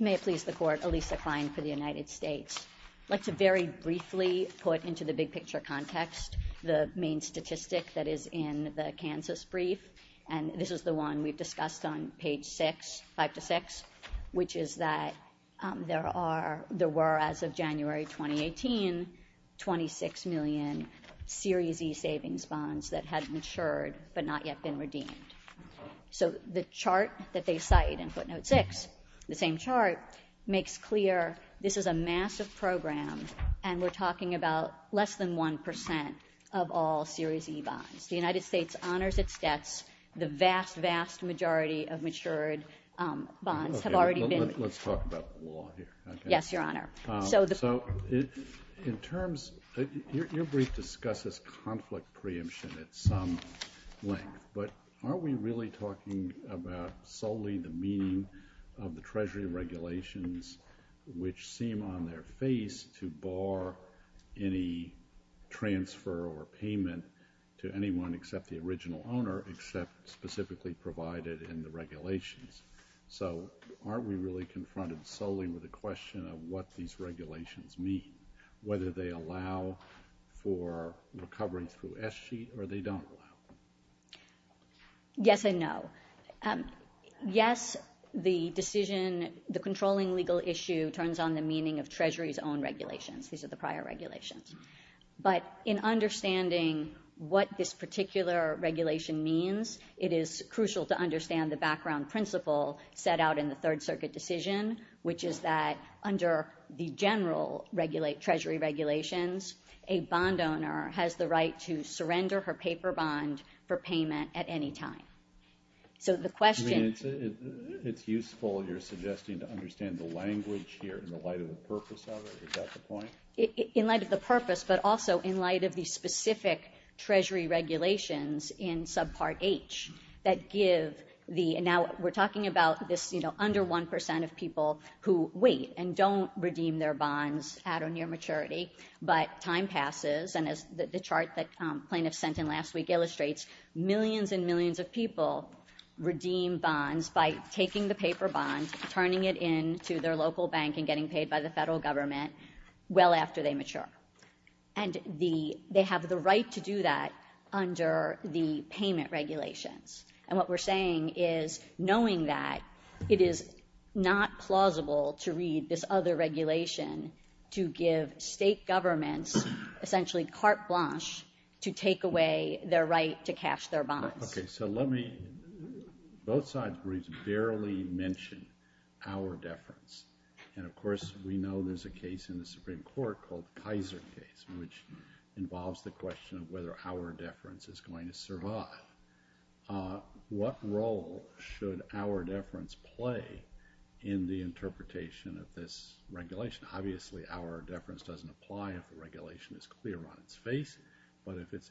May it please the Court, Alisa Klein for the United States. I'd like to very briefly put into the big picture context the main statistic that is in the Kansas brief, and this is the one we've discussed on page six, five to six, which is that there were, as of January 2018, 26 million Series E savings bonds that had matured but not yet been redeemed. So the chart that they cite in footnote six, the same chart, makes clear this is a massive program and we're talking about less than 1% of all Series E bonds. The United States honors its debts. The vast, vast majority of matured bonds have already been redeemed. Let's talk about the law here. Yes, Your Honor. So in terms, your brief discusses conflict preemption at some length, but aren't we really talking about solely the meaning of the Treasury regulations, which seem on their face to bar any transfer or payment to anyone except the original owner, except specifically provided in the regulations? So aren't we really confronted solely with the question of what these regulations mean, whether they allow for recovery through S-sheet or they don't allow? Yes and no. Yes, the decision, the controlling legal issue turns on the meaning of Treasury's own regulations. These are the prior regulations. But in understanding what this particular regulation means, it is crucial to understand the background principle set out in the Third Circuit decision, which is that under the general Treasury regulations, a bond owner has the right to surrender her paper bond for payment at any time. So the question- I mean, it's useful you're suggesting to understand the language here in the light of the purpose of it. Is that the point? In light of the purpose, but also in light of the specific Treasury regulations in subpart H that give the- and now we're talking about this, you know, under 1% of people who wait and don't redeem their bonds at or near maturity. But time passes, and as the chart that plaintiffs sent in last week illustrates, millions and millions of people redeem bonds by taking the paper bond, turning it into their local bank, and getting paid by the federal government well after they mature. And they have the right to do that under the payment regulations. And what we're saying is, knowing that, it is not plausible to read this other regulation to give state governments essentially carte blanche to take away their right to cash their bonds. Okay, so let me- both sides barely mention our deference, and of course we know there's a case in the Supreme Court called the Pizer case, which involves the question of whether our deference is going to survive. What role should our deference play in the interpretation of this regulation? Obviously our deference doesn't apply if the regulation is clear on its face, but if it's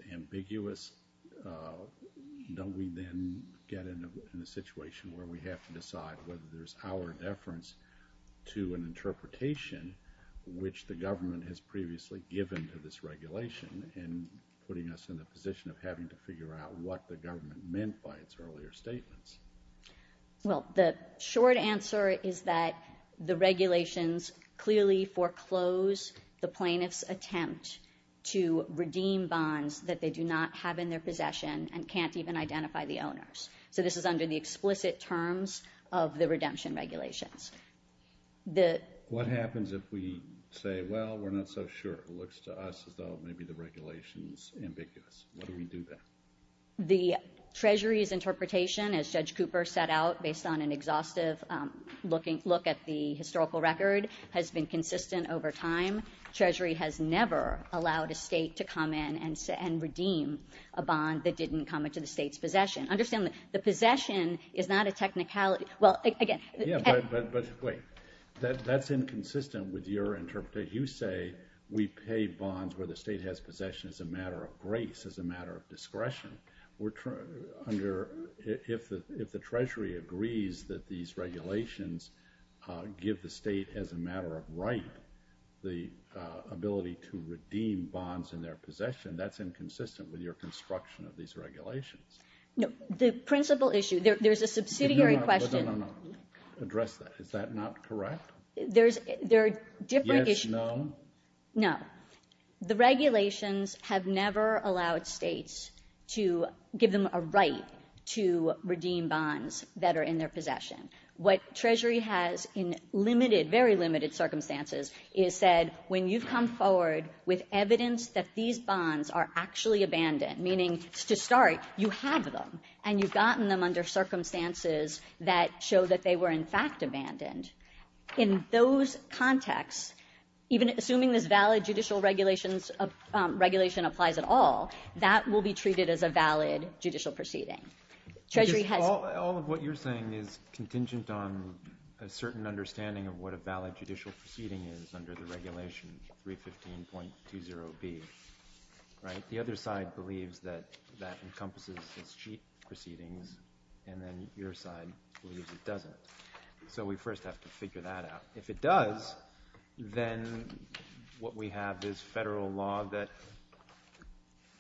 Don't we then get in a situation where we have to decide whether there's our deference to an interpretation which the government has previously given to this regulation, and putting us in a position of having to figure out what the government meant by its earlier statements? Well, the short answer is that the regulations clearly foreclose the plaintiff's attempt to redeem bonds that they do not have in their possession, and can't even identify the owners. So this is under the explicit terms of the redemption regulations. What happens if we say, well, we're not so sure? It looks to us as though maybe the regulation is ambiguous. What do we do then? The Treasury's interpretation, as Judge Cooper set out, based on an exhaustive look at the historical record, has been consistent over time. Treasury has never allowed a state to come in and redeem a bond that didn't come into the state's possession. Understand that the possession is not a technicality. Well, again... Yeah, but wait. That's inconsistent with your interpretation. You say we pay bonds where the state has possession as a matter of grace, as a matter of discretion. If the Treasury agrees that these regulations give the state, as a matter of right, the ability to redeem bonds in their possession, that's inconsistent with your construction of these regulations. The principal issue... There's a subsidiary question... No, no, no, no. Address that. Is that not correct? There are different... Yes, no? No. The regulations have never allowed states to give them a right to redeem bonds that are in their possession. What Treasury has, in limited, very limited circumstances, is said, when you've come forward with evidence that these bonds are actually abandoned, meaning, to start, you have them, and you've gotten them under circumstances that show that they were, in fact, abandoned. In those contexts, even assuming this valid judicial regulation applies at all, that will be treated as a valid judicial proceeding. Treasury has... All of what you're saying is contingent on a certain understanding of what a valid judicial proceeding is under the regulation 315.20B, right? The other side believes that that encompasses as cheap proceedings, and then your side believes it doesn't. So we first have to figure that out. If it does, then what we have is Federal law that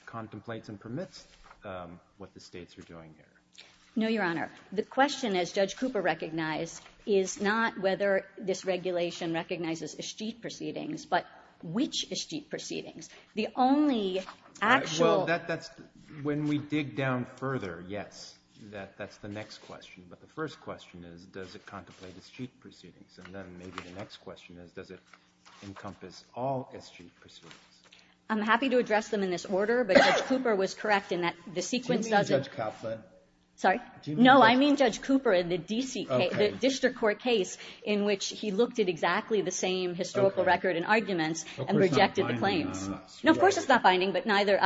contemplates and permits what the No, Your Honor. The question, as Judge Cooper recognized, is not whether this regulation recognizes as cheap proceedings, but which as cheap proceedings. The only actual... Well, that's... When we dig down further, yes, that's the next question. But the first question is, does it contemplate as cheap proceedings? And then maybe the next question is, does it encompass all as cheap proceedings? I'm happy to address them in this order, but Judge Cooper was correct in that the sequence doesn't... Do you mean Judge Kaplan? Sorry? No, I mean Judge Cooper in the district court case in which he looked at exactly the same historical record and arguments and rejected the claims. Of course it's not binding, but neither...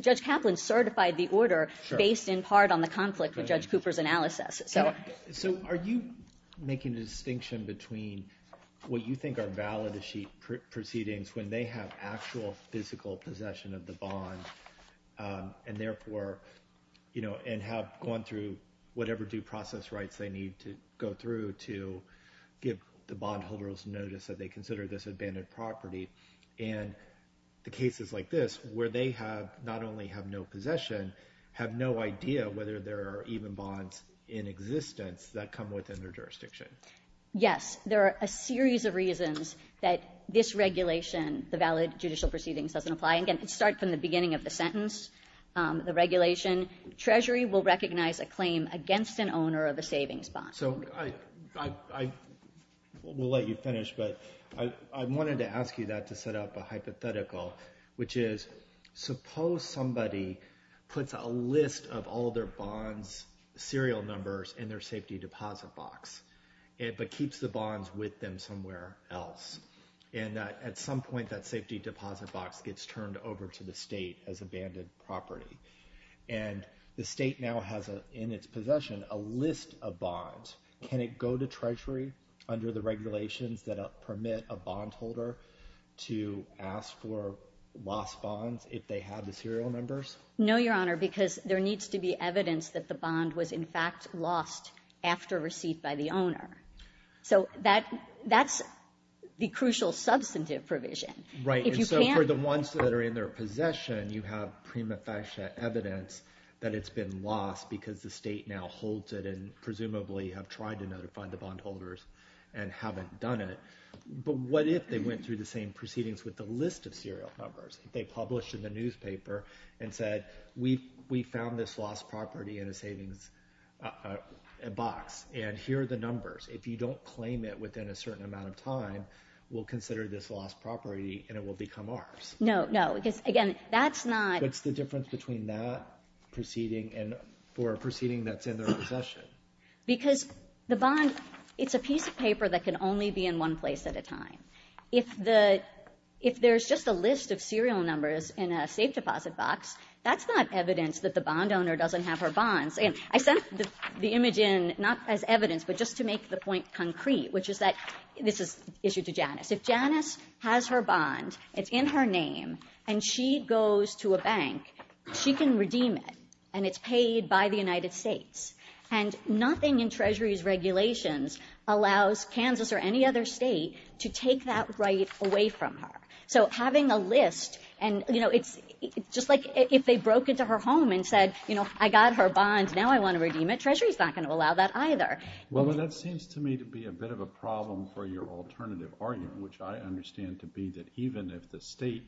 Judge Kaplan certified the order based in part on the conflict with Judge Cooper's analysis. So are you making a distinction between what you think are valid as cheap proceedings when they have actual physical possession of the bond and have gone through whatever due process rights they need to go through to give the bondholders notice that they consider this abandoned property and the cases like this where they not only have no possession, have no idea whether there are even bonds in existence that come within their jurisdiction? Yes, there are a series of reasons that this regulation, the valid judicial proceedings, doesn't apply. Again, start from the beginning of the sentence, the regulation. Treasury will recognize a claim against an owner of a savings bond. So I will let you finish, but I wanted to ask you that to set up a hypothetical, which is suppose somebody puts a list of all their bonds, serial numbers in their safety deposit box, but keeps the bonds with them somewhere else, and at some point that safety deposit box gets turned over to the state as abandoned property, and the state now has in its possession a list of bonds. Can it go to Treasury under the regulations that permit a bondholder to ask for lost bonds if they have the serial numbers? No, Your Honor, because there needs to be evidence that the bond was in fact lost after receipt by the owner. So that's the crucial substantive provision. Right, and so for the ones that are in their possession, you have prima facie evidence that it's been lost because the state now holds it and presumably have tried to notify the bondholders and haven't done it. But what if they went through the same proceedings with the list of serial numbers? If they published in the newspaper and said, we found this lost property in a savings a box, and here are the numbers. If you don't claim it within a certain amount of time, we'll consider this lost property and it will become ours. No, no, because again, that's not... What's the difference between that proceeding and for a proceeding that's in their possession? Because the bond, it's a piece of paper that can only be in one place at a time. If there's just a list of serial numbers in a safe deposit box, that's not evidence that the bond owner doesn't have her bonds. I sent the image in not as evidence, but just to make the point concrete, which is that this is issued to Janice. If Janice has her bond, it's in her name, and she goes to a bank, she can redeem it and it's paid by the United States. And nothing in Treasury's regulations allows Kansas or any other state to take that right away from her. So having a list and, you know, it's just like if they broke into her home and said, I got her bond, now I want to redeem it. Treasury's not going to allow that either. Well, that seems to me to be a bit of a problem for your alternative argument, which I understand to be that even if the state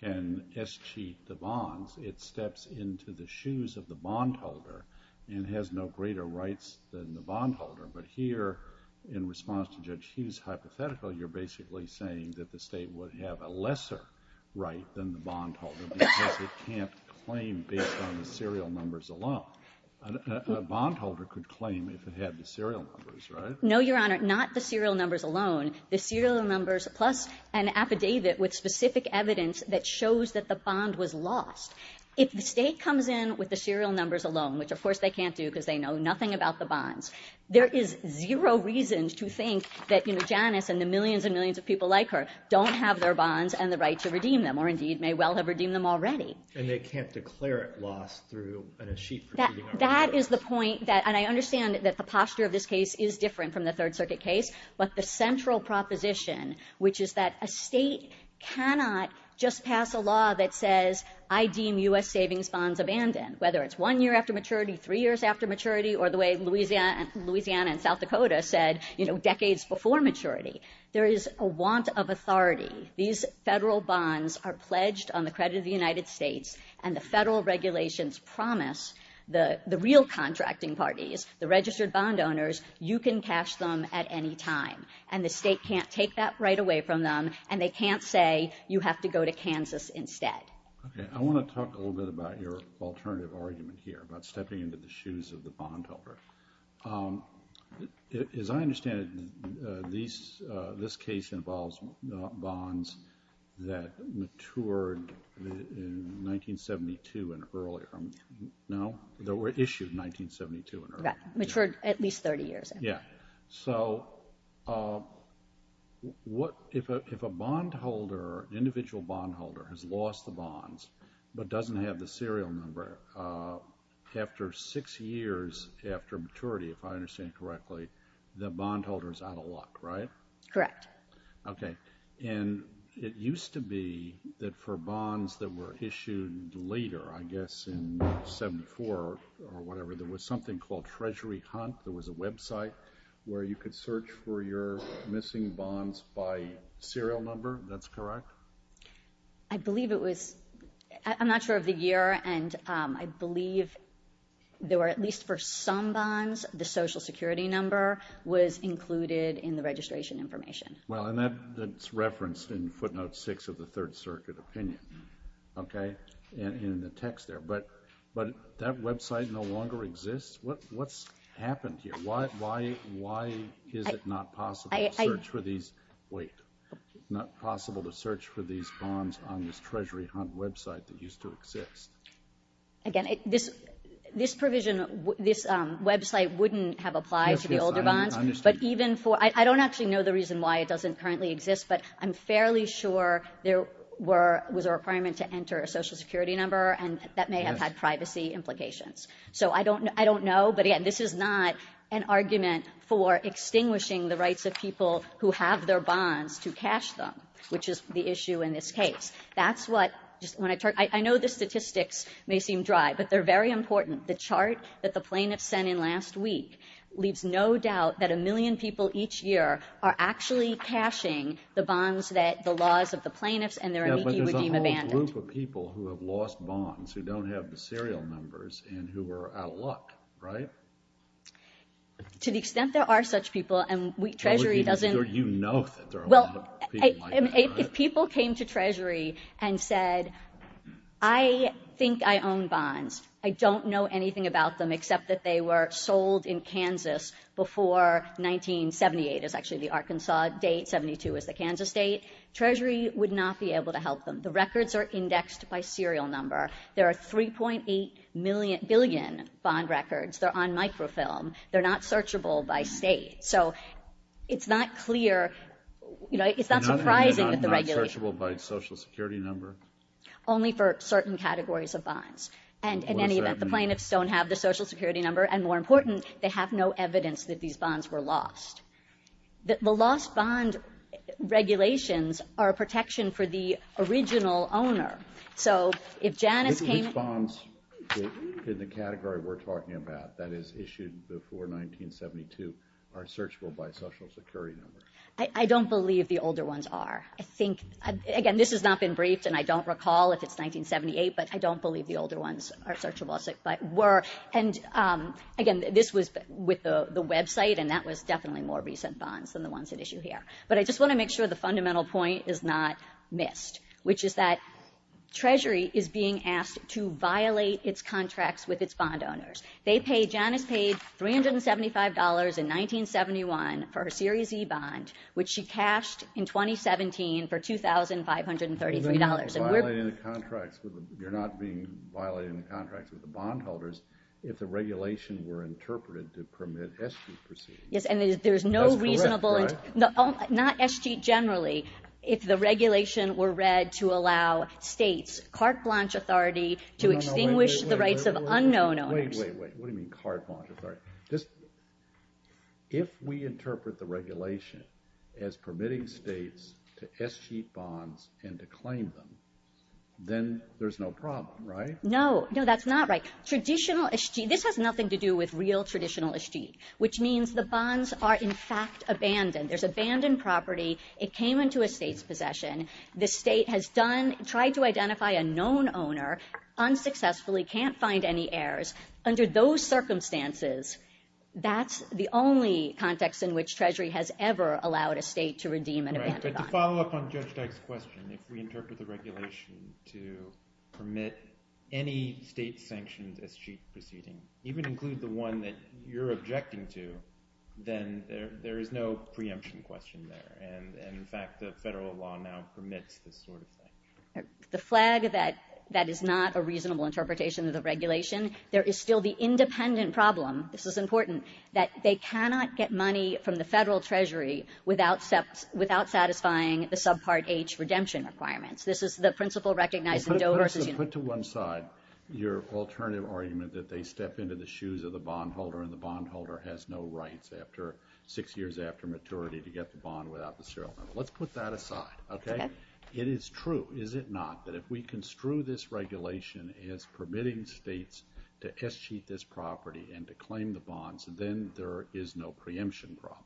can escheat the bonds, it steps into the shoes of the bond holder and has no greater rights than the bond holder. But here, in response to Judge Hughes' hypothetical, you're basically saying that the state would have a lesser right than the bond holder because it can't claim based on the serial numbers alone. A bond holder could claim if it had the serial numbers, right? No, Your Honor, not the serial numbers alone. The serial numbers plus an affidavit with specific evidence that shows that the bond was lost. If the state comes in with the serial numbers alone, which of course they can't do because they know nothing about the bonds, there is zero reason to think that, you know, Janice and the millions and millions of people like her don't have their bonds and the right to redeem them or indeed may well have redeemed them already. And they can't declare it lost through an escheat proceeding. That is the point that, and I understand that the posture of this case is different from the Third Circuit case, but the central proposition, which is that a state cannot just pass a law that says, I deem U.S. savings bonds abandoned, whether it's one year after maturity, three years after maturity, or the way Louisiana and South Dakota said, you know, decades before maturity. There is a want of authority. These federal bonds are pledged on the credit of the United States, and the federal regulations promise the real contracting parties, the registered bond owners, you can cash them at any time. And the state can't take that right away from them, and they can't say, you have to go to Kansas instead. Okay. I want to talk a little bit about your alternative argument here, about stepping into the shoes of the bondholder. As I understand it, this case involves bonds that matured in 1972 and earlier. No? That were issued in 1972 and earlier. Right. Matured at least 30 years. Yeah. So, what, if a bondholder, an individual bondholder, has lost the bonds, but doesn't have the serial number, after six years after maturity, if I understand correctly, the bondholder's out of luck, right? Correct. Okay. And it used to be that for bonds that were issued later, I guess in 74 or whatever, there was something called Treasury Hunt, there was a website where you could search for your missing bonds by serial number, that's correct? I believe it was, I'm not sure of the year, and I believe there were, at least for some bonds, the social security number was included in the registration information. Well, and that's referenced in footnote six of the Third Circuit opinion, okay, in the text there. But that website no longer exists? What's happened here? Why is it not possible to search for these, wait. Not possible to search for these bonds on this Treasury Hunt website that used to exist? Again, this provision, this website wouldn't have applied to the older bonds, but even for, I don't actually know the reason why it doesn't currently exist, but I'm fairly sure there was a requirement to enter a social security number, and that may have had privacy implications. So, I don't know, but again, this is not an argument for extinguishing the rights of people who have their bonds to cash them, which is the issue in this case. That's what, I know the statistics may seem dry, but they're very important. The chart that the plaintiffs sent in last week leaves no doubt that a million people each year are actually cashing the bonds that the laws of the plaintiffs and their amici would deem abandoned. Yeah, but there's a whole group of people who have lost bonds who don't have the serial numbers and who are out of luck, right? To the extent there are such people, and Treasury doesn't... You know that there are a lot of people like that, right? If people came to Treasury and said, I think I own bonds, I don't know anything about them except that they were sold in Kansas before 1978 is actually the Arkansas date, 72 is the Kansas date, Treasury would not be able to help them. The records are indexed by serial number. There are 3.8 billion bond records. They're on microfilm. They're not searchable by state. So it's not clear, you know, it's not surprising that the regulation... Not searchable by social security number? Only for certain categories of bonds. And in any event, the plaintiffs don't have the social security number, and more important, they have no evidence that these bonds were lost. The lost bond regulations are a protection for the original owner. So if Janice came... Which bonds in the category we're talking about that is issued before 1972 are searchable by social security number? I don't believe the older ones are. I think, again, this has not been briefed, and I don't recall if it's 1978, but I don't believe the older ones are searchable, but were. And again, this was with the website, and that was definitely more recent bonds than the ones at issue here. But I just want to make sure the fundamental point is not missed, which is that Treasury is being asked to violate its contracts with its bond owners. They pay... Janice paid $375 in 1971 for her Series E bond, which she cashed in 2017 for $2,533. You're not being violated in contracts with the bondholders if the regulation were interpreted to permit eschewed proceedings. Yes, and there's no reasonable... Not eschewed generally, if the regulation were read to allow states carte blanche authority to extinguish the rights of unknown owners. Wait, wait, wait. What do you mean carte blanche authority? If we interpret the regulation as permitting states to eschewed bonds and to claim them, then there's no problem, right? No, no, that's not right. Traditional eschewed... This has nothing to do with real traditional eschewed, which means the bonds are in fact abandoned. There's abandoned property. It came into a state's possession. The state has done... Tried to identify a known owner, unsuccessfully, can't find any heirs. Under those circumstances, that's the only context in which Treasury has ever allowed a state to redeem an abandoned bond. Right, but to follow up on Judge Dyke's question, if we interpret the regulation to permit any state sanctions as eschewed proceedings, even include the one that you're objecting to, then there is no preemption question there. And in fact, the federal law now permits this sort of thing. The flag that that is not a reasonable interpretation of the regulation, there is still the independent problem, this is important, that they cannot get money from the federal Treasury without satisfying the subpart H redemption requirements. This is the principle recognized in Dover's... Put to one side your alternative argument that they step into the shoes of the bond holder has no rights after six years after maturity to get the bond without the serial number. Let's put that aside. Okay? It is true, is it not, that if we construe this regulation as permitting states to eschew this property and to claim the bonds, then there is no preemption problem.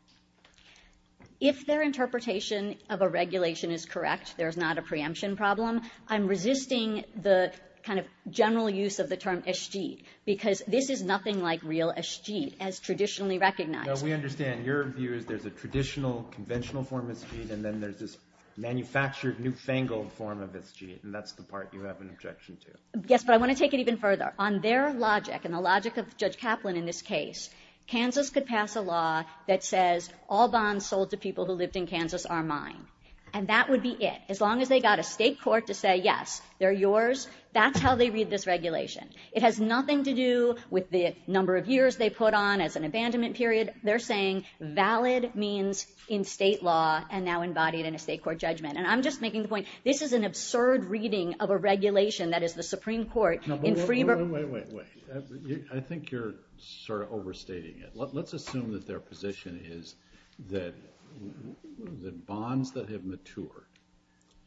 If their interpretation of a regulation is correct, there's not a preemption problem, I'm resisting the kind of general use of the term eschewed, because this is nothing like a real eschewed as traditionally recognized. No, we understand. Your view is there's a traditional, conventional form of eschewed, and then there's this manufactured newfangled form of eschewed, and that's the part you have an objection to. Yes, but I want to take it even further. On their logic, and the logic of Judge Kaplan in this case, Kansas could pass a law that says all bonds sold to people who lived in Kansas are mine. And that would be it. As long as they got a state court to say yes, they're yours, that's how they read this regulation. It has nothing to do with the number of years they put on as an abandonment period. They're saying valid means in state law, and now embodied in a state court judgment. And I'm just making the point, this is an absurd reading of a regulation that is the Supreme Court in Freeborn- No, but wait, wait, wait, wait. I think you're sort of overstating it. Let's assume that their position is that the bonds that have matured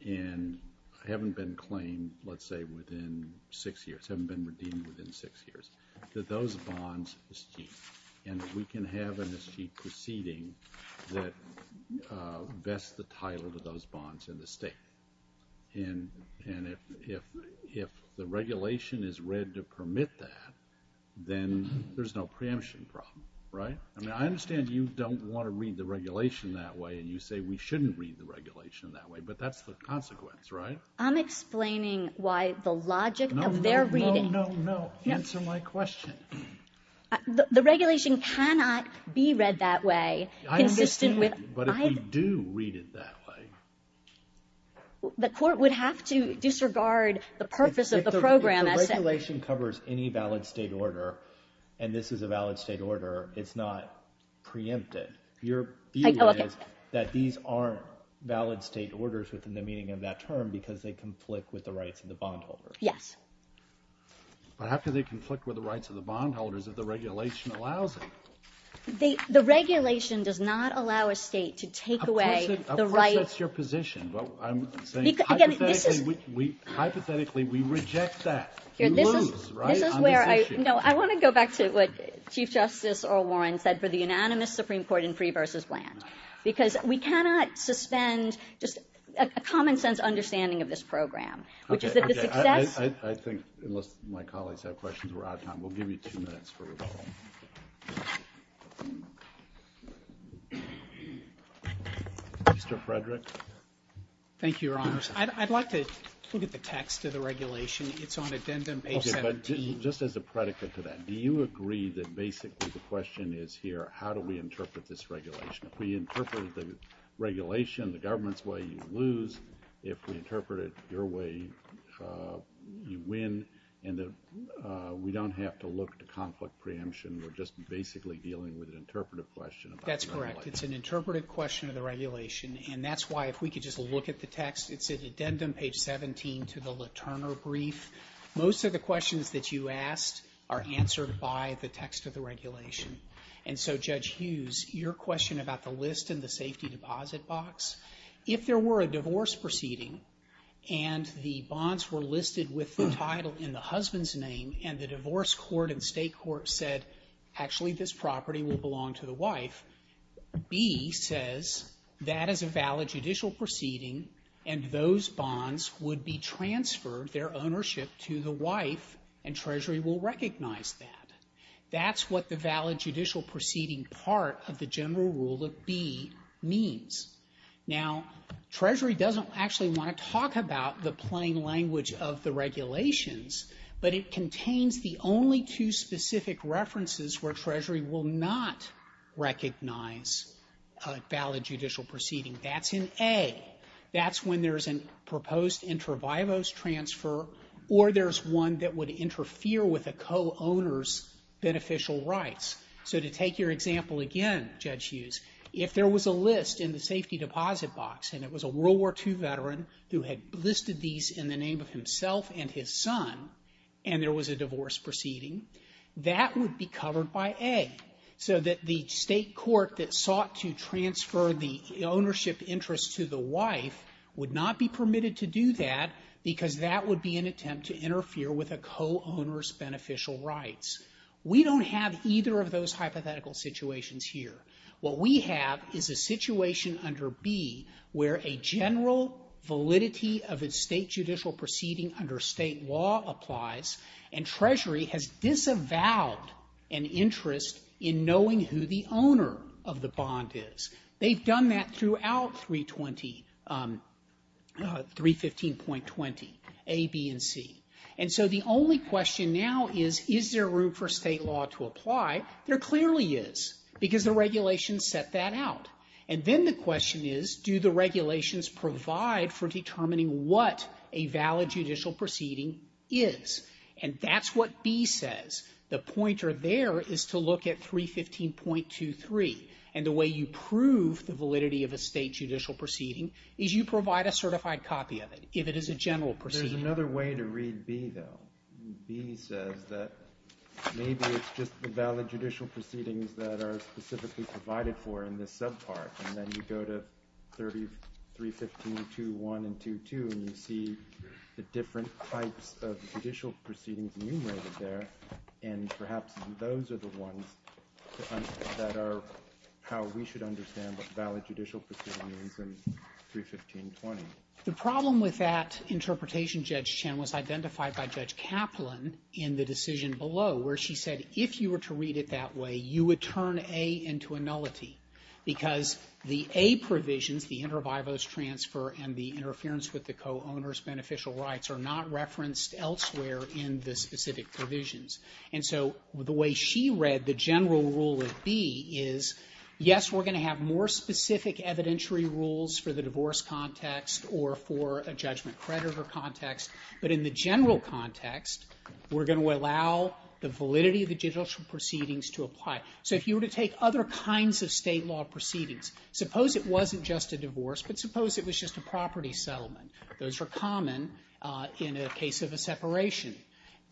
and haven't been claimed, let's say within six years, haven't been redeemed within six years, that those bonds eschewed. And we can have an eschewed proceeding that vests the title of those bonds in the state. And if the regulation is read to permit that, then there's no preemption problem, right? I mean, I understand you don't want to read the regulation that way, and you say we shouldn't read the regulation that way, but that's the consequence, right? I'm explaining why the logic of their reading- No, no, no, no, answer my question. The regulation cannot be read that way, consistent with- I understand, but if we do read it that way- The court would have to disregard the purpose of the program as- If the regulation covers any valid state order, and this is a valid state order, it's not preempted. Your view is that these aren't valid state orders within the meaning of that term because they conflict with the rights of the bondholders. Yes. But how can they conflict with the rights of the bondholders if the regulation allows it? The regulation does not allow a state to take away the right- Of course that's your position, but I'm saying hypothetically we reject that. We lose, right, on this issue. This is where I- No, I want to go back to what Chief Justice Earl Warren said for the unanimous Supreme Court in Free v. Bland, because we cannot suspend just a common sense understanding of this program, which is that the success- I think, unless my colleagues have questions, we're out of time. We'll give you two minutes for rebuttal. Mr. Frederick? Thank you, Your Honors. I'd like to look at the text of the regulation. It's on addendum page 17. Just as a predicate to that, do you agree that basically the question is here, how do we interpret this regulation? If we interpret the regulation the government's way, you lose. If we interpret it your way, you win. And we don't have to look to conflict preemption. We're just basically dealing with an interpretive question about the regulation. That's correct. It's an interpretive question of the regulation, and that's why, if we could just look at the text, it's at addendum page 17 to the LaTurner brief. Most of the questions that you asked are answered by the text of the regulation. And so, Judge Hughes, your question about the list in the safety deposit box, if there were a divorce proceeding and the bonds were listed with the title in the husband's name and the divorce court and state court said, actually, this property will belong to the wife, B says that is a valid judicial proceeding and those bonds would be transferred their ownership to the wife and Treasury will recognize that. That's what the valid judicial proceeding part of the general rule of B means. Now Treasury doesn't actually want to talk about the plain language of the regulations, but it contains the only two specific references where Treasury will not recognize a valid judicial proceeding. That's in A. That's when there's a proposed inter vivos transfer or there's one that would interfere with a co-owner's beneficial rights. So to take your example again, Judge Hughes, if there was a list in the safety deposit box and it was a World War II veteran who had listed these in the name of himself and his son and there was a divorce proceeding, that would be covered by A. So that the state court that sought to transfer the ownership interest to the wife would not be permitted to do that because that would be an attempt to interfere with a co-owner's beneficial rights. We don't have either of those hypothetical situations here. What we have is a situation under B where a general validity of a state judicial proceeding under state law applies and Treasury has disavowed an interest in knowing who the owner of the bond is. They've done that throughout 315.20 A, B, and C. And so the only question now is, is there room for state law to apply? There clearly is because the regulations set that out. And then the question is, do the regulations provide for determining what a valid judicial proceeding is? And that's what B says. The pointer there is to look at 315.23 and the way you prove the validity of a state judicial proceeding is you provide a certified copy of it if it is a general proceeding. There's another way to read B though. B says that maybe it's just the valid judicial proceedings that are specifically provided for in this subpart. And then you go to 315.21 and 2.2 and you see the different types of judicial proceedings enumerated there and perhaps those are the ones that are how we should understand what valid judicial proceedings are in 315.20. The problem with that interpretation, Judge Chen, was identified by Judge Kaplan in the because the A provisions, the inter vivos transfer and the interference with the co-owner's beneficial rights are not referenced elsewhere in the specific provisions. And so the way she read the general rule of B is, yes, we're going to have more specific evidentiary rules for the divorce context or for a judgment creditor context, but in the general context, we're going to allow the validity of the judicial proceedings to apply. So if you were to take other kinds of state law proceedings, suppose it wasn't just a divorce but suppose it was just a property settlement. Those are common in a case of a separation.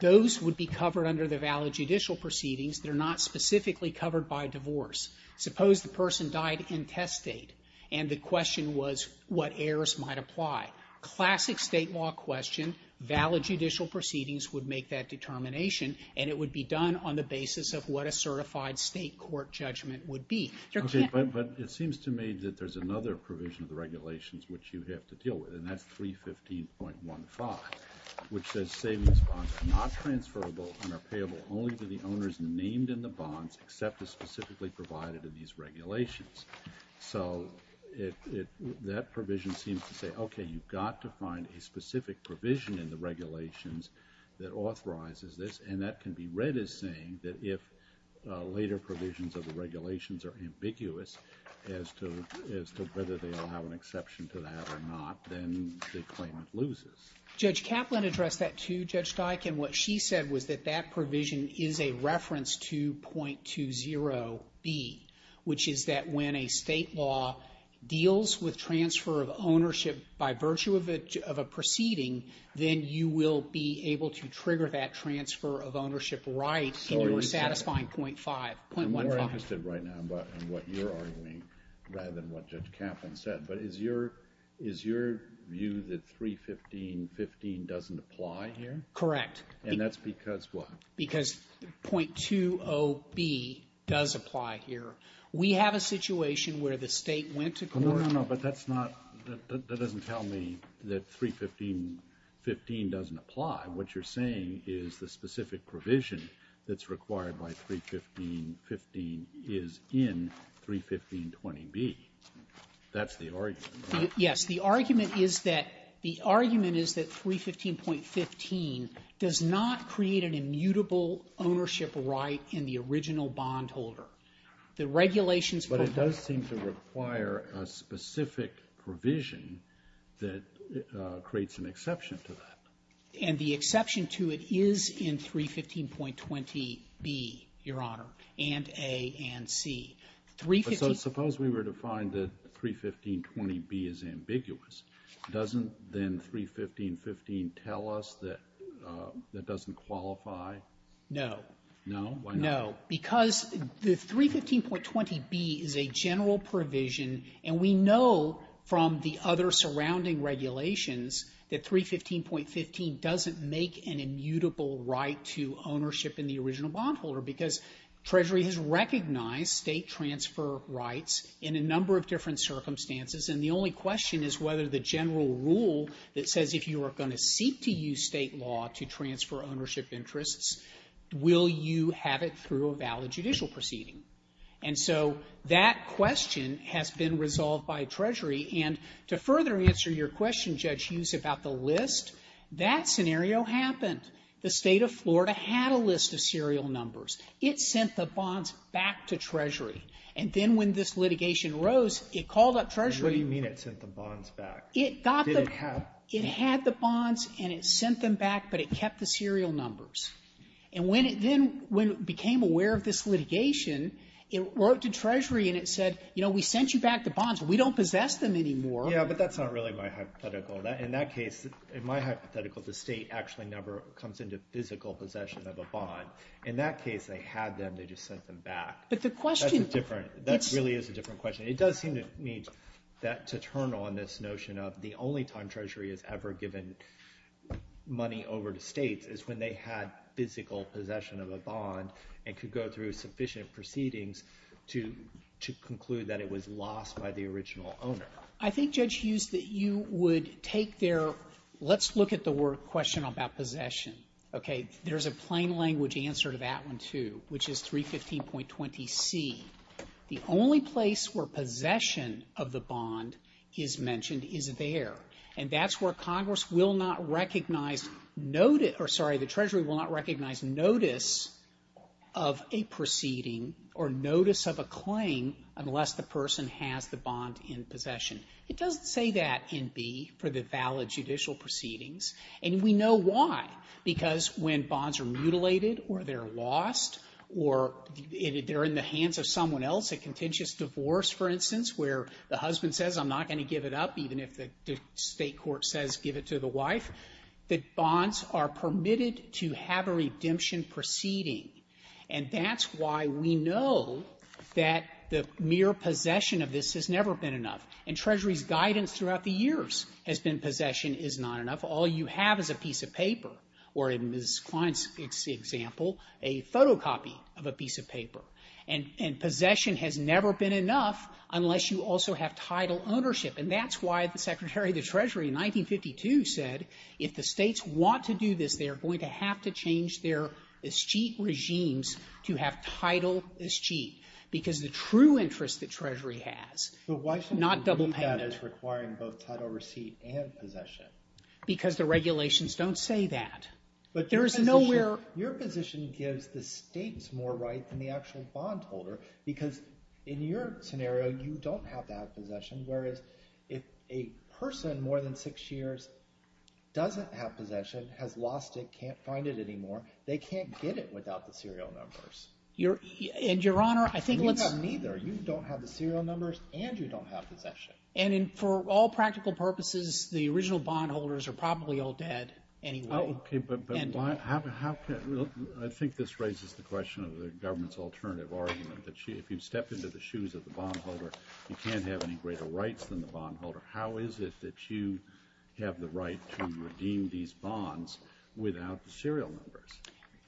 Those would be covered under the valid judicial proceedings. They're not specifically covered by divorce. Suppose the person died intestate and the question was what errors might apply. Classic state law question, valid judicial proceedings would make that determination and it would be done on the basis of what a certified state court judgment would be. But it seems to me that there's another provision of the regulations which you have to deal with and that's 315.15, which says savings bonds are not transferable and are payable only to the owners named in the bonds except as specifically provided in these regulations. So that provision seems to say, okay, you've got to find a specific provision in the regulations that authorizes this and that can be read as saying that if later provisions of the regulations are ambiguous as to whether they'll have an exception to that or not, then the claimant loses. Judge Kaplan addressed that too, Judge Steichen. What she said was that that provision is a reference to .20B, which is that when a state law deals with transfer of ownership by virtue of a proceeding, then you will be able to trigger that transfer of ownership right in your satisfying .15. I'm more interested right now in what you're arguing rather than what Judge Kaplan said. But is your view that 315.15 doesn't apply here? Correct. And that's because what? Because .20B does apply here. We have a situation where the state went to court. No, no, no, but that's not, that doesn't tell me that 315.15 doesn't apply. What you're saying is the specific provision that's required by 315.15 is in 315.20B. That's the argument, right? Yes, the argument is that 315.15 does not create an immutable ownership right in the original bondholder. The regulations for the bondholder. But it does seem to require a specific provision that creates an exception to that. And the exception to it is in 315.20B, Your Honor, and A and C. But suppose we were to find that 315.20B is ambiguous. Doesn't then 315.15 tell us that that doesn't qualify? No. No? Why not? No, because the 315.20B is a general provision and we know from the other surrounding regulations that 315.15 doesn't make an immutable right to ownership in the original bondholder. Because Treasury has recognized state transfer rights in a number of different circumstances and the only question is whether the general rule that says if you are going to seek to approve a valid judicial proceeding. And so that question has been resolved by Treasury. And to further answer your question, Judge Hughes, about the list, that scenario happened. The state of Florida had a list of serial numbers. It sent the bonds back to Treasury. And then when this litigation rose, it called up Treasury. What do you mean it sent the bonds back? It got the, it had the bonds and it sent them back, but it kept the serial numbers. And when it then, when it became aware of this litigation, it wrote to Treasury and it said, you know, we sent you back the bonds, but we don't possess them anymore. Yeah, but that's not really my hypothetical. In that case, in my hypothetical, the state actually never comes into physical possession of a bond. In that case, they had them, they just sent them back. But the question. That's a different, that really is a different question. It does seem to me that to turn on this notion of the only time Treasury has ever given money over to states is when they had physical possession of a bond and could go through sufficient proceedings to conclude that it was lost by the original owner. I think, Judge Hughes, that you would take their, let's look at the word, question about possession. Okay. There's a plain language answer to that one too, which is 315.20C. The only place where possession of the bond is mentioned is there. And that's where Congress will not recognize notice, or sorry, the Treasury will not recognize notice of a proceeding or notice of a claim unless the person has the bond in possession. It doesn't say that in B, for the valid judicial proceedings, and we know why. Because when bonds are mutilated or they're lost or they're in the hands of someone else, a contentious divorce, for instance, where the husband says, I'm not going to give it up, even if the state court says give it to the wife, the bonds are permitted to have a redemption proceeding. And that's why we know that the mere possession of this has never been enough. And Treasury's guidance throughout the years has been possession is not enough. All you have is a piece of paper, or in Ms. Klein's example, a photocopy of a piece of paper. And possession has never been enough unless you also have title ownership. And that's why the Secretary of the Treasury in 1952 said, if the states want to do this, they're going to have to change their escheat regimes to have title escheat. Because the true interest that Treasury has, not double payment. But why should we believe that as requiring both title receipt and possession? Because the regulations don't say that. But there is nowhere... Your position gives the states more rights than the actual bondholder. Because in your scenario, you don't have to have possession, whereas if a person more than six years doesn't have possession, has lost it, can't find it anymore, they can't get it without the serial numbers. And Your Honor, I think let's... Neither. You don't have the serial numbers and you don't have possession. And for all practical purposes, the original bondholders are probably all dead anyway. Oh, okay. But how can... I think this raises the question of the government's alternative argument that if you step into the shoes of the bondholder, you can't have any greater rights than the bondholder. How is it that you have the right to redeem these bonds without the serial numbers?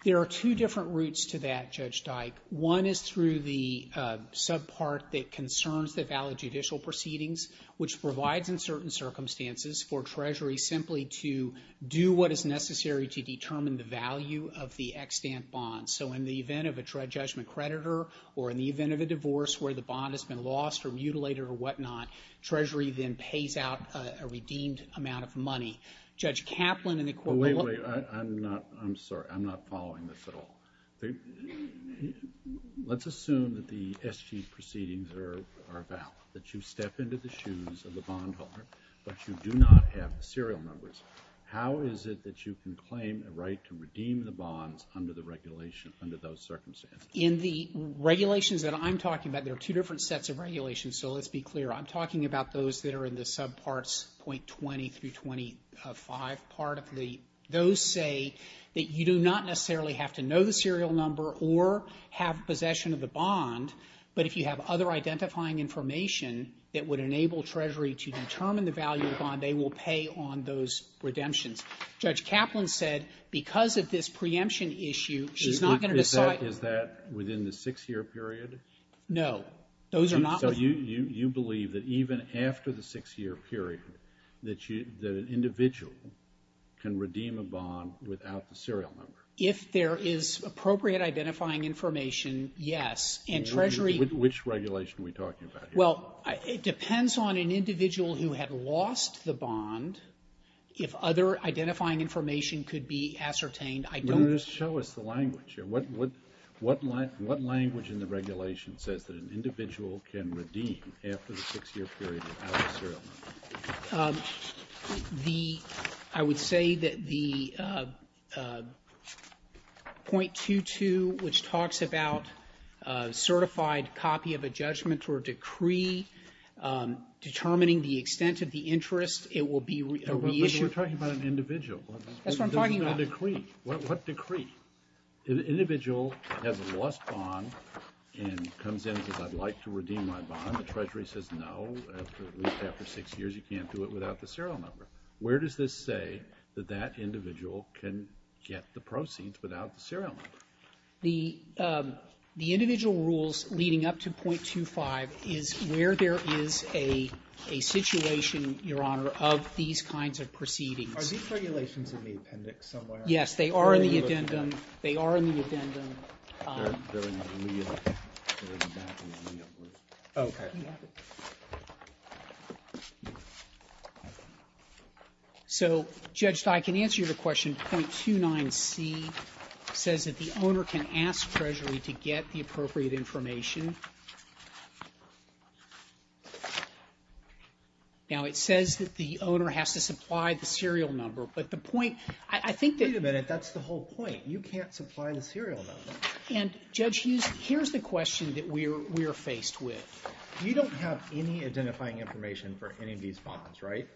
There are two different routes to that, Judge Dike. One is through the subpart that concerns the valid judicial proceedings, which provides in certain circumstances for Treasury simply to do what is necessary to determine the value of the extant bond. So in the event of a judgment creditor or in the event of a divorce where the bond has been lost or mutilated or whatnot, Treasury then pays out a redeemed amount of money. Judge Kaplan in the court... Wait, wait. I'm not... I'm sorry. I'm not following this at all. Let's assume that the SG proceedings are valid, that you step into the shoes of the bondholder but you do not have the serial numbers. How is it that you can claim the right to redeem the bonds under the regulation, under those circumstances? In the regulations that I'm talking about, there are two different sets of regulations, so let's be clear. I'm talking about those that are in the subparts .20 through .25 part of the... Those say that you do not necessarily have to know the serial number or have possession of the bond, but if you have other identifying information that would enable Treasury to determine the value of the bond, they will pay on those redemptions. Judge Kaplan said because of this preemption issue, she's not going to decide... Is that within the six-year period? No. Those are not... So you believe that even after the six-year period that an individual can redeem a bond without the serial number? If there is appropriate identifying information, yes. And Treasury... Which regulation are we talking about here? Well, it depends on an individual who had lost the bond. If other identifying information could be ascertained, I don't... Well, just show us the language here. What language in the regulation says that an individual can redeem after the six-year period without a serial number? The... I would say that the .22, which talks about a certified copy of a judgment or decree determining the extent of the interest, it will be a reissue. But we're talking about an individual. That's what I'm talking about. This is not a decree. What decree? An individual has lost a bond and comes in and says, I'd like to redeem my bond. And the Treasury says, no, at least after six years, you can't do it without the serial number. Where does this say that that individual can get the proceeds without the serial number? The individual rules leading up to .25 is where there is a situation, Your Honor, of these kinds of proceedings. Are these regulations in the appendix somewhere? Yes, they are in the addendum. They are in the addendum. They're in the lien. They're exactly in the lien. Okay. So, Judge Steyer, I can answer your question, .29c says that the owner can ask Treasury to get the appropriate information. Now, it says that the owner has to supply the serial number. But the point... I think that... Wait a minute. That's the whole point. You can't supply the serial number. And, Judge Hughes, here's the question that we're faced with. You don't have any identifying information for any of these bonds, right?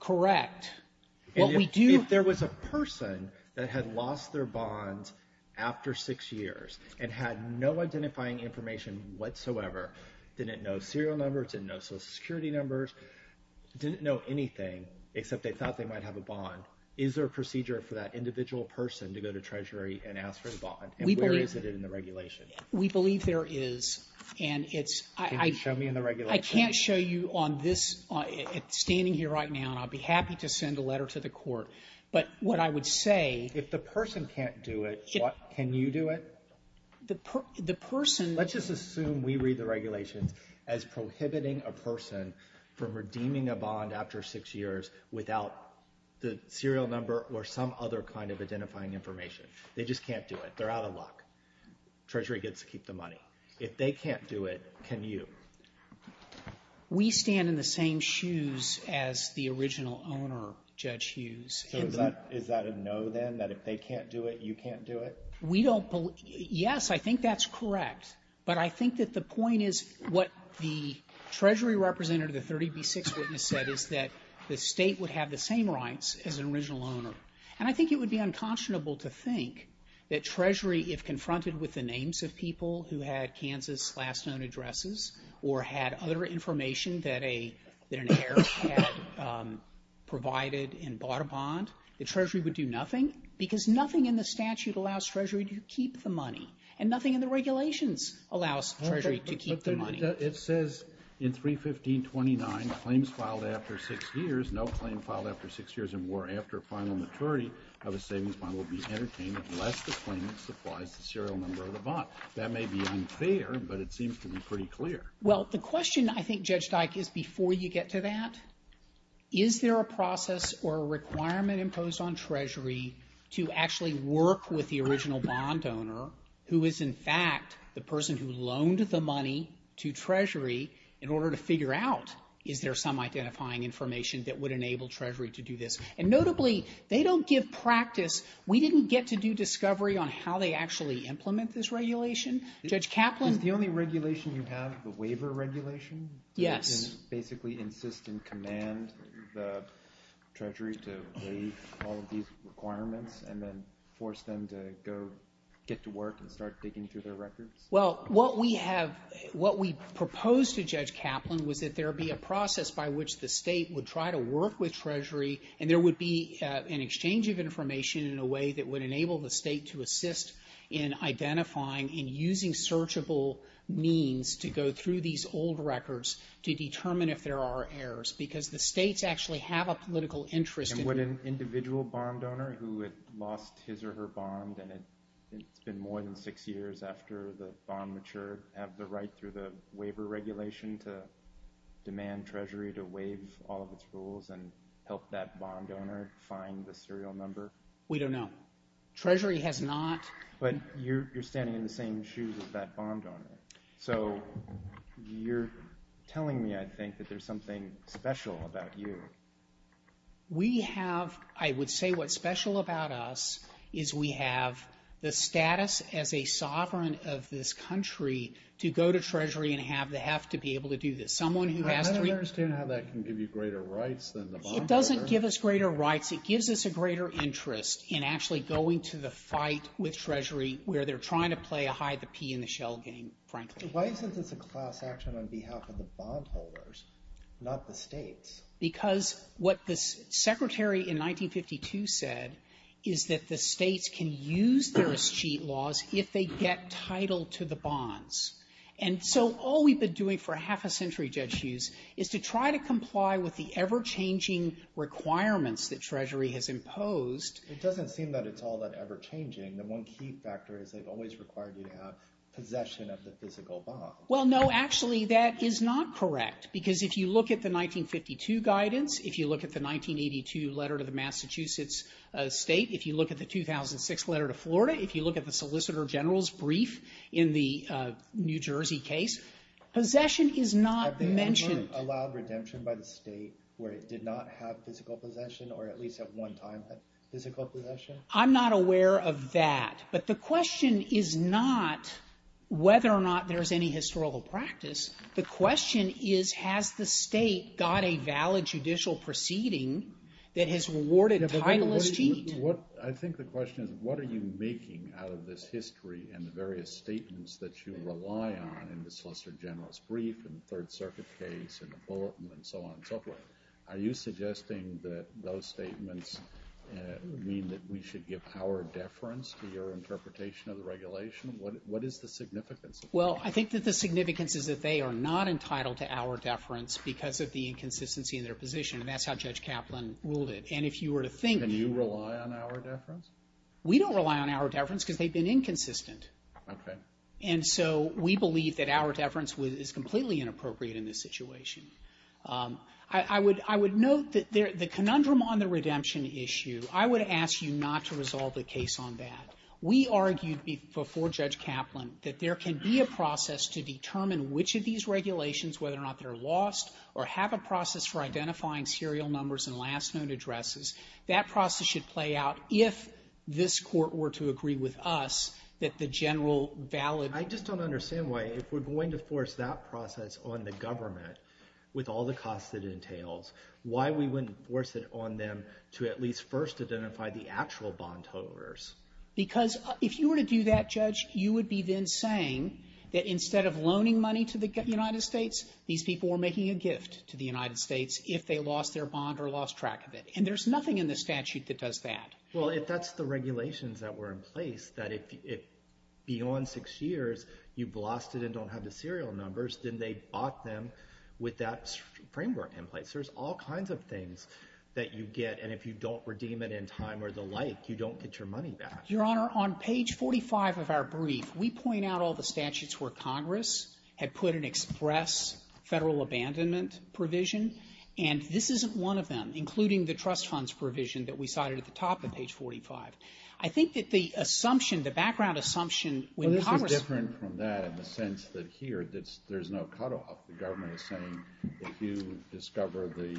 Correct. What we do... And if there was a person that had lost their bonds after six years and had no identifying information whatsoever, didn't know serial numbers, didn't know Social Security numbers, didn't know anything except they thought they might have a bond, is there a procedure for that individual person to go to Treasury and ask for the bond, and where is it in the regulation? We believe there is. And it's... Can you show me in the regulation? I can't show you on this. It's standing here right now, and I'll be happy to send a letter to the court. But what I would say... If the person can't do it, can you do it? The person... Let's just assume we read the regulations as prohibiting a person from redeeming a bond after six years without the serial number or some other kind of identifying information. They're out of luck. Treasury gets to keep the money. If they can't do it, can you? We stand in the same shoes as the original owner, Judge Hughes. So is that a no then, that if they can't do it, you can't do it? We don't believe... Yes, I think that's correct. But I think that the point is what the Treasury representative, the 30B6 witness said is that the state would have the same rights as an original owner. And I think it would be unconscionable to think that Treasury, if confronted with the Kansas last known addresses or had other information that an heir had provided and bought a bond, the Treasury would do nothing. Because nothing in the statute allows Treasury to keep the money. And nothing in the regulations allows Treasury to keep the money. It says in 315.29, claims filed after six years, no claim filed after six years or more after final maturity of a savings bond will be entertained unless the claimant supplies the serial number of the bond. That may be unfair, but it seems to be pretty clear. Well, the question I think, Judge Dyck, is before you get to that, is there a process or a requirement imposed on Treasury to actually work with the original bond owner, who is in fact the person who loaned the money to Treasury in order to figure out, is there some identifying information that would enable Treasury to do this? And notably, they don't give practice. We didn't get to do discovery on how they actually implement this regulation. Judge Kaplan- Is the only regulation you have the waiver regulation? Yes. Basically insist and command the Treasury to waive all of these requirements and then force them to go get to work and start digging through their records? Well, what we have, what we proposed to Judge Kaplan was that there be a process by which the state would try to work with Treasury and there would be an exchange of information in a way that would enable the state to assist in identifying and using searchable means to go through these old records to determine if there are errors. Because the states actually have a political interest in- And would an individual bond owner who had lost his or her bond, and it's been more than six years after the bond matured, have the right through the waiver regulation to demand Treasury to waive all of its rules and help that bond owner find the serial number? We don't know. Treasury has not- But you're standing in the same shoes as that bond owner. So you're telling me, I think, that there's something special about you. We have, I would say what's special about us is we have the status as a sovereign of this country to go to Treasury and have the heft to be able to do this. I don't understand how that can give you greater rights than the bond owner. It doesn't give us greater rights. It gives us a greater interest in actually going to the fight with Treasury where they're trying to play a hide the pea in the shell game, frankly. Why is this a class action on behalf of the bond holders, not the states? Because what the Secretary in 1952 said is that the states can use their cheat laws if they get title to the bonds. And so all we've been doing for half a century, Judge Hughes, is to try to comply with the ever-changing requirements that Treasury has imposed. It doesn't seem that it's all that ever-changing. The one key factor is they've always required you to have possession of the physical bond. Well, no, actually, that is not correct. Because if you look at the 1952 guidance, if you look at the 1982 letter to the Massachusetts state, if you look at the 2006 letter to Florida, if you look at the Solicitor General's brief in the New Jersey case, possession is not mentioned. Have they ever allowed redemption by the state where it did not have physical possession or at least at one time had physical possession? I'm not aware of that. But the question is not whether or not there's any historical practice. The question is, has the state got a valid judicial proceeding that has rewarded title as cheat? I think the question is, what are you making out of this history and the various statements that you rely on in the Solicitor General's brief, in the Third Circuit case, in the Bulletin, and so on and so forth? Are you suggesting that those statements mean that we should give our deference to your interpretation of the regulation? What is the significance? Well, I think that the significance is that they are not entitled to our deference because of the inconsistency in their position, and that's how Judge Kaplan ruled it. And if you were to think- Can you rely on our deference? We don't rely on our deference because they've been inconsistent. And so we believe that our deference is completely inappropriate in this situation. I would note that the conundrum on the redemption issue, I would ask you not to resolve the case on that. We argued before Judge Kaplan that there can be a process to determine which of these regulations, whether or not they're lost, or have a process for identifying serial numbers and last known addresses. That process should play out if this Court were to agree with us that the general valid- I just don't understand why, if we're going to force that process on the government with all the costs it entails, why we wouldn't force it on them to at least first identify the actual bondholders? Because if you were to do that, Judge, you would be then saying that instead of loaning money to the United States, these people were making a gift to the United States if they lost their bond or lost track of it. And there's nothing in the statute that does that. Well, if that's the regulations that were in place, that if beyond six years you've lost it and don't have the serial numbers, then they bought them with that framework in place. There's all kinds of things that you get. And if you don't redeem it in time or the like, you don't get your money back. Your Honor, on page 45 of our brief, we point out all the statutes where Congress had put an express federal abandonment provision. And this isn't one of them, including the trust funds provision that we cited at the top of page 45. I think that the assumption, the background assumption, when Congress... Well, this is different from that in the sense that here there's no cutoff. The government is saying if you discover the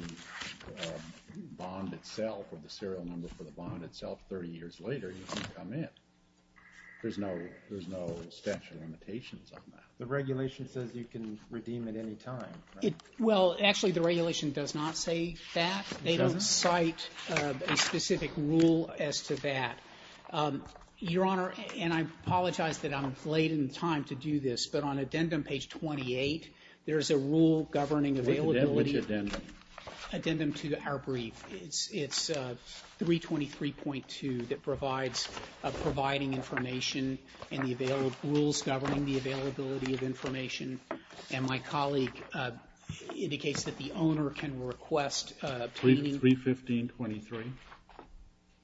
bond itself or the serial number for the bond itself 30 years later, you can come in. There's no statute of limitations on that. The regulation says you can redeem at any time. Well, actually, the regulation does not say that. They don't cite a specific rule as to that. Your Honor, and I apologize that I'm late in time to do this, but on addendum page 28, there's a rule governing availability. Addendum to our brief. It's 323.2 that provides providing information and the rules governing the availability of indicates that the owner can request obtaining... 315.23?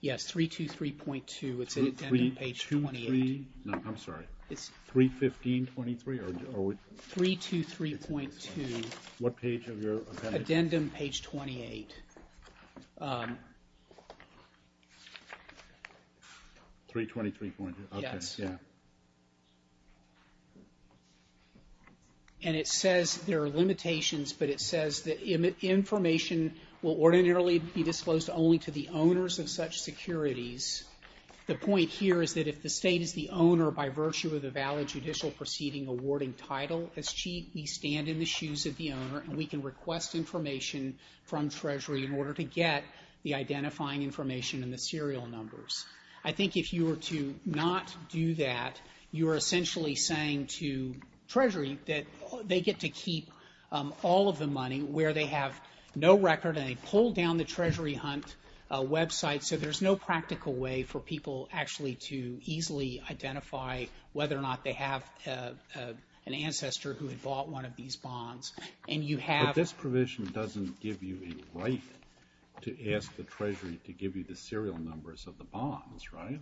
Yes, 323.2. It's in addendum page 28. I'm sorry, 315.23? 323.2. What page of your appendix? Addendum page 28. 323.2, okay, yeah. And it says there are limitations, but it says that information will ordinarily be disclosed only to the owners of such securities. The point here is that if the state is the owner by virtue of the valid judicial proceeding awarding title as chief, we stand in the shoes of the owner and we can request information from Treasury in order to get the identifying information and the serial numbers. I think if you were to not do that, you're essentially saying to Treasury that they get to keep all of the money where they have no record and they pull down the Treasury hunt website so there's no practical way for people actually to easily identify whether or not they have an ancestor who had bought one of these bonds. And you have... But this provision doesn't give you a right to ask the Treasury to give you the serial numbers of the bonds, right?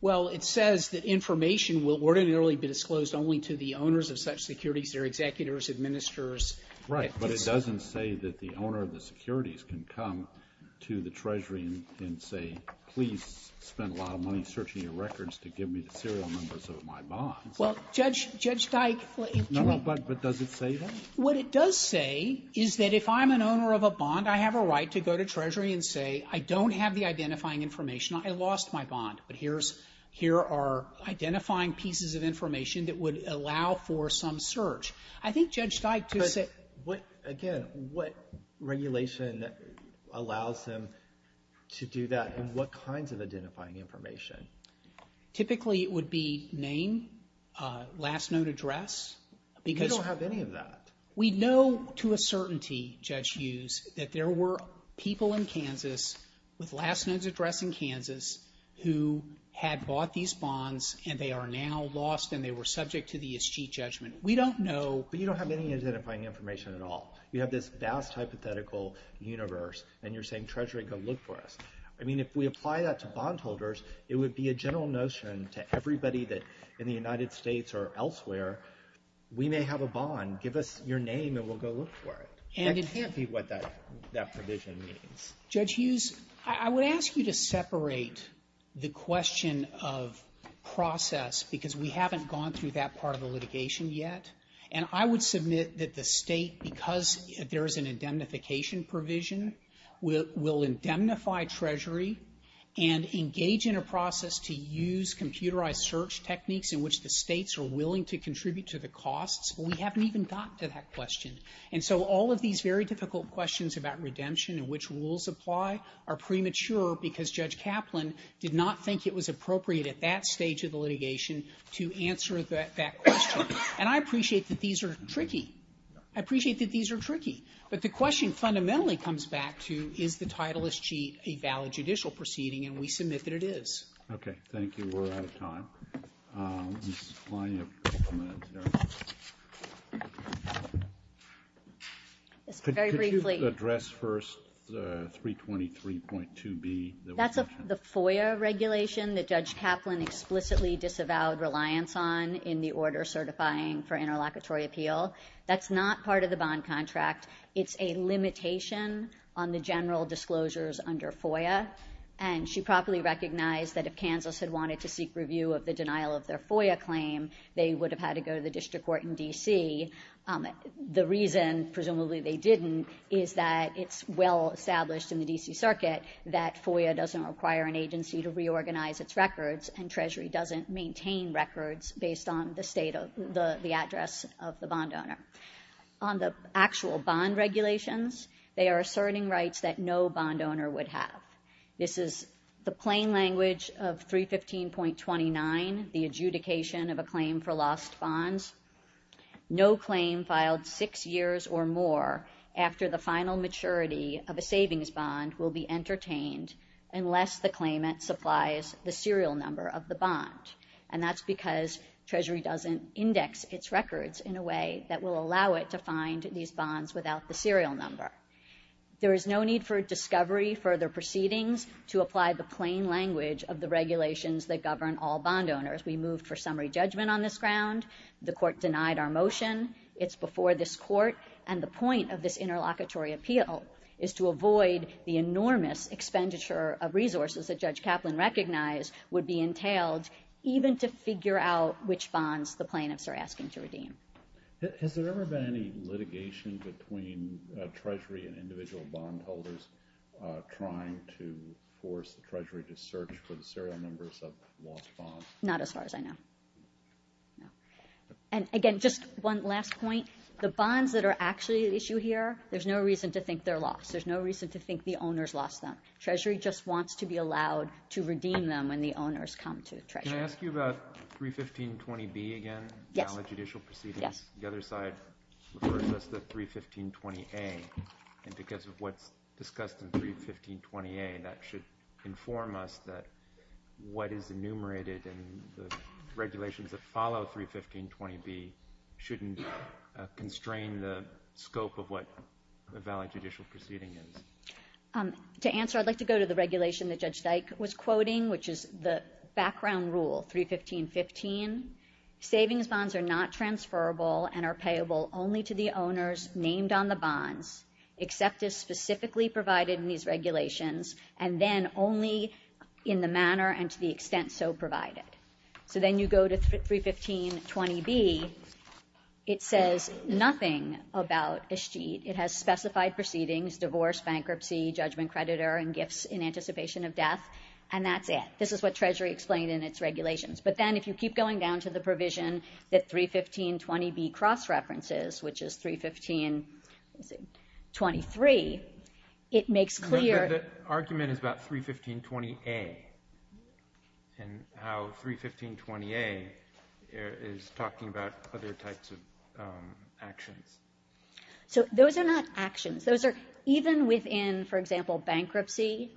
Well, it says that information will ordinarily be disclosed only to the owners of such securities, their executors, administrators. Right. But it doesn't say that the owner of the securities can come to the Treasury and say, please spend a lot of money searching your records to give me the serial numbers of my bonds. Well, Judge, Judge Dyke... No, no, but does it say that? What it does say is that if I'm an owner of a bond, I have a right to go to Treasury and say, I don't have the identifying information, I lost my bond, but here's, here are identifying pieces of information that would allow for some search. I think Judge Dyke just said... But what, again, what regulation allows them to do that and what kinds of identifying information? Typically, it would be name, last note address, because... We don't have any of that. We know to a certainty, Judge Hughes, that there were people in Kansas with last notes address in Kansas who had bought these bonds and they are now lost and they were subject to the escheat judgment. We don't know... But you don't have any identifying information at all. You have this vast hypothetical universe and you're saying Treasury go look for us. I mean, if we apply that to bondholders, it would be a general notion to everybody that in the United States or elsewhere, we may have a bond. Give us your name and we'll go look for it. And it can't be what that provision means. Judge Hughes, I would ask you to separate the question of process because we haven't gone through that part of the litigation yet. And I would submit that the state, because there is an indemnification provision, will indemnify Treasury and engage in a process to use computerized search techniques in which the states are willing to contribute to the costs. We haven't even gotten to that question. And so all of these very difficult questions about redemption and which rules apply are premature because Judge Kaplan did not think it was appropriate at that stage of the litigation to answer that question. And I appreciate that these are tricky. I appreciate that these are tricky. But the question fundamentally comes back to, is the title escheat a valid judicial proceeding? And we submit that it is. Okay. Thank you. We're out of time. Ms. Kline, you have a couple of minutes there. Could you address first the 323.2b? That's the FOIA regulation that Judge Kaplan explicitly disavowed reliance on in the order certifying for interlocutory appeal. That's not part of the bond contract. It's a limitation on the general disclosures under FOIA. And she properly recognized that if Kansas had wanted to seek review of the denial of their FOIA claim, they would have had to go to the district court in D.C. The reason, presumably they didn't, is that it's well established in the D.C. circuit that FOIA doesn't require an agency to reorganize its records and Treasury doesn't maintain records based on the state of the address of the bond owner. On the actual bond regulations, they are asserting rights that no bond owner would have. This is the plain language of 315.29, the adjudication of a claim for lost bonds. No claim filed six years or more after the final maturity of a savings bond will be entertained unless the claimant supplies the serial number of the bond. And that's because Treasury doesn't index its records in a way that will allow it to find these bonds without the serial number. There is no need for discovery, further proceedings to apply the plain language of the regulations that govern all bond owners. We moved for summary judgment on this ground. The court denied our motion. It's before this court. And the point of this interlocutory appeal is to avoid the enormous expenditure of resources that Judge Kaplan recognized would be entailed even to figure out which bonds the plaintiffs are asking to redeem. Has there ever been any litigation between Treasury and individual bondholders trying to force the Treasury to search for the serial numbers of lost bonds? Not as far as I know. And again, just one last point. The bonds that are actually at issue here, there's no reason to think they're lost. There's no reason to think the owners lost them. Treasury just wants to be allowed to redeem them when the owners come to Treasury. Can I ask you about 31520B again, valid judicial proceedings? The other side refers us to 31520A, and because of what's discussed in 31520A, that should inform us that what is enumerated in the regulations that follow 31520B shouldn't constrain the scope of what a valid judicial proceeding is. To answer, I'd like to go to the regulation that Judge Dyke was quoting, which is the background rule, 31515, savings bonds are not transferable and are payable only to the owners named on the bonds, except as specifically provided in these regulations, and then only in the manner and to the extent so provided. So then you go to 31520B, it says nothing about a sheet. It has specified proceedings, divorce, bankruptcy, judgment creditor, and gifts in anticipation of death. And that's it. This is what Treasury explained in its regulations. But then if you keep going down to the provision that 31520B cross-references, which is 31523, it makes clear. The argument is about 31520A and how 31520A is talking about other types of actions. So those are not actions. Those are even within, for example, bankruptcy,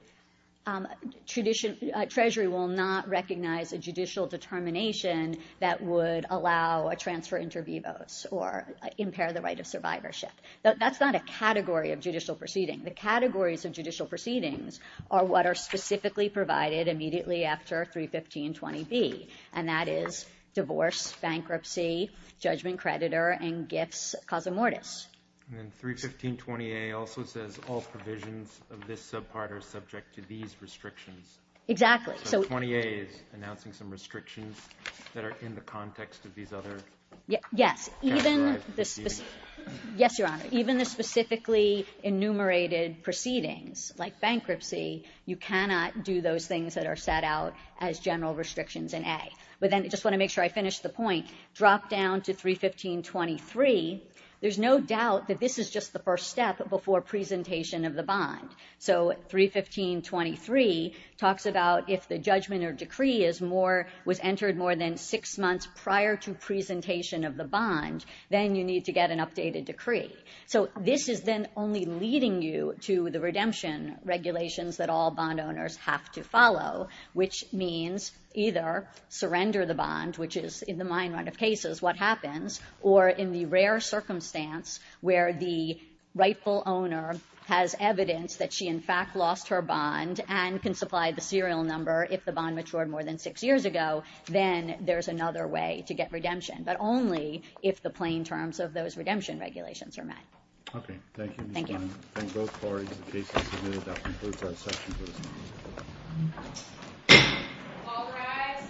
Treasury will not recognize a judicial determination that would allow a transfer inter vivos or impair the right of survivorship. That's not a category of judicial proceeding. The categories of judicial proceedings are what are specifically provided immediately after 31520B, and that is divorce, bankruptcy, judgment creditor, and gifts causa mortis. And then 31520A also says all provisions of this subpart are subject to these restrictions. Exactly. So 20A is announcing some restrictions that are in the context of these other. Yes. Even this, yes, Your Honor, even the specifically enumerated proceedings like bankruptcy, you cannot do those things that are set out as general restrictions in A. But then I just want to make sure I finish the point. Drop down to 31523. There's no doubt that this is just the first step before presentation of the bond. So 31523 talks about if the judgment or decree is more, was entered more than six months prior to presentation of the bond, then you need to get an updated decree. So this is then only leading you to the redemption regulations that all bond owners have to follow, which means either surrender the bond, which is in the mine run of cases, what happens, or in the rare circumstance where the rightful owner has evidence that she in fact lost her bond and can supply the serial number if the bond matured more than six years ago, then there's another way to get redemption. But only if the plain terms of those redemption regulations are met. Okay. Thank you. Thank you. Thank both parties. The case is submitted. That concludes our session.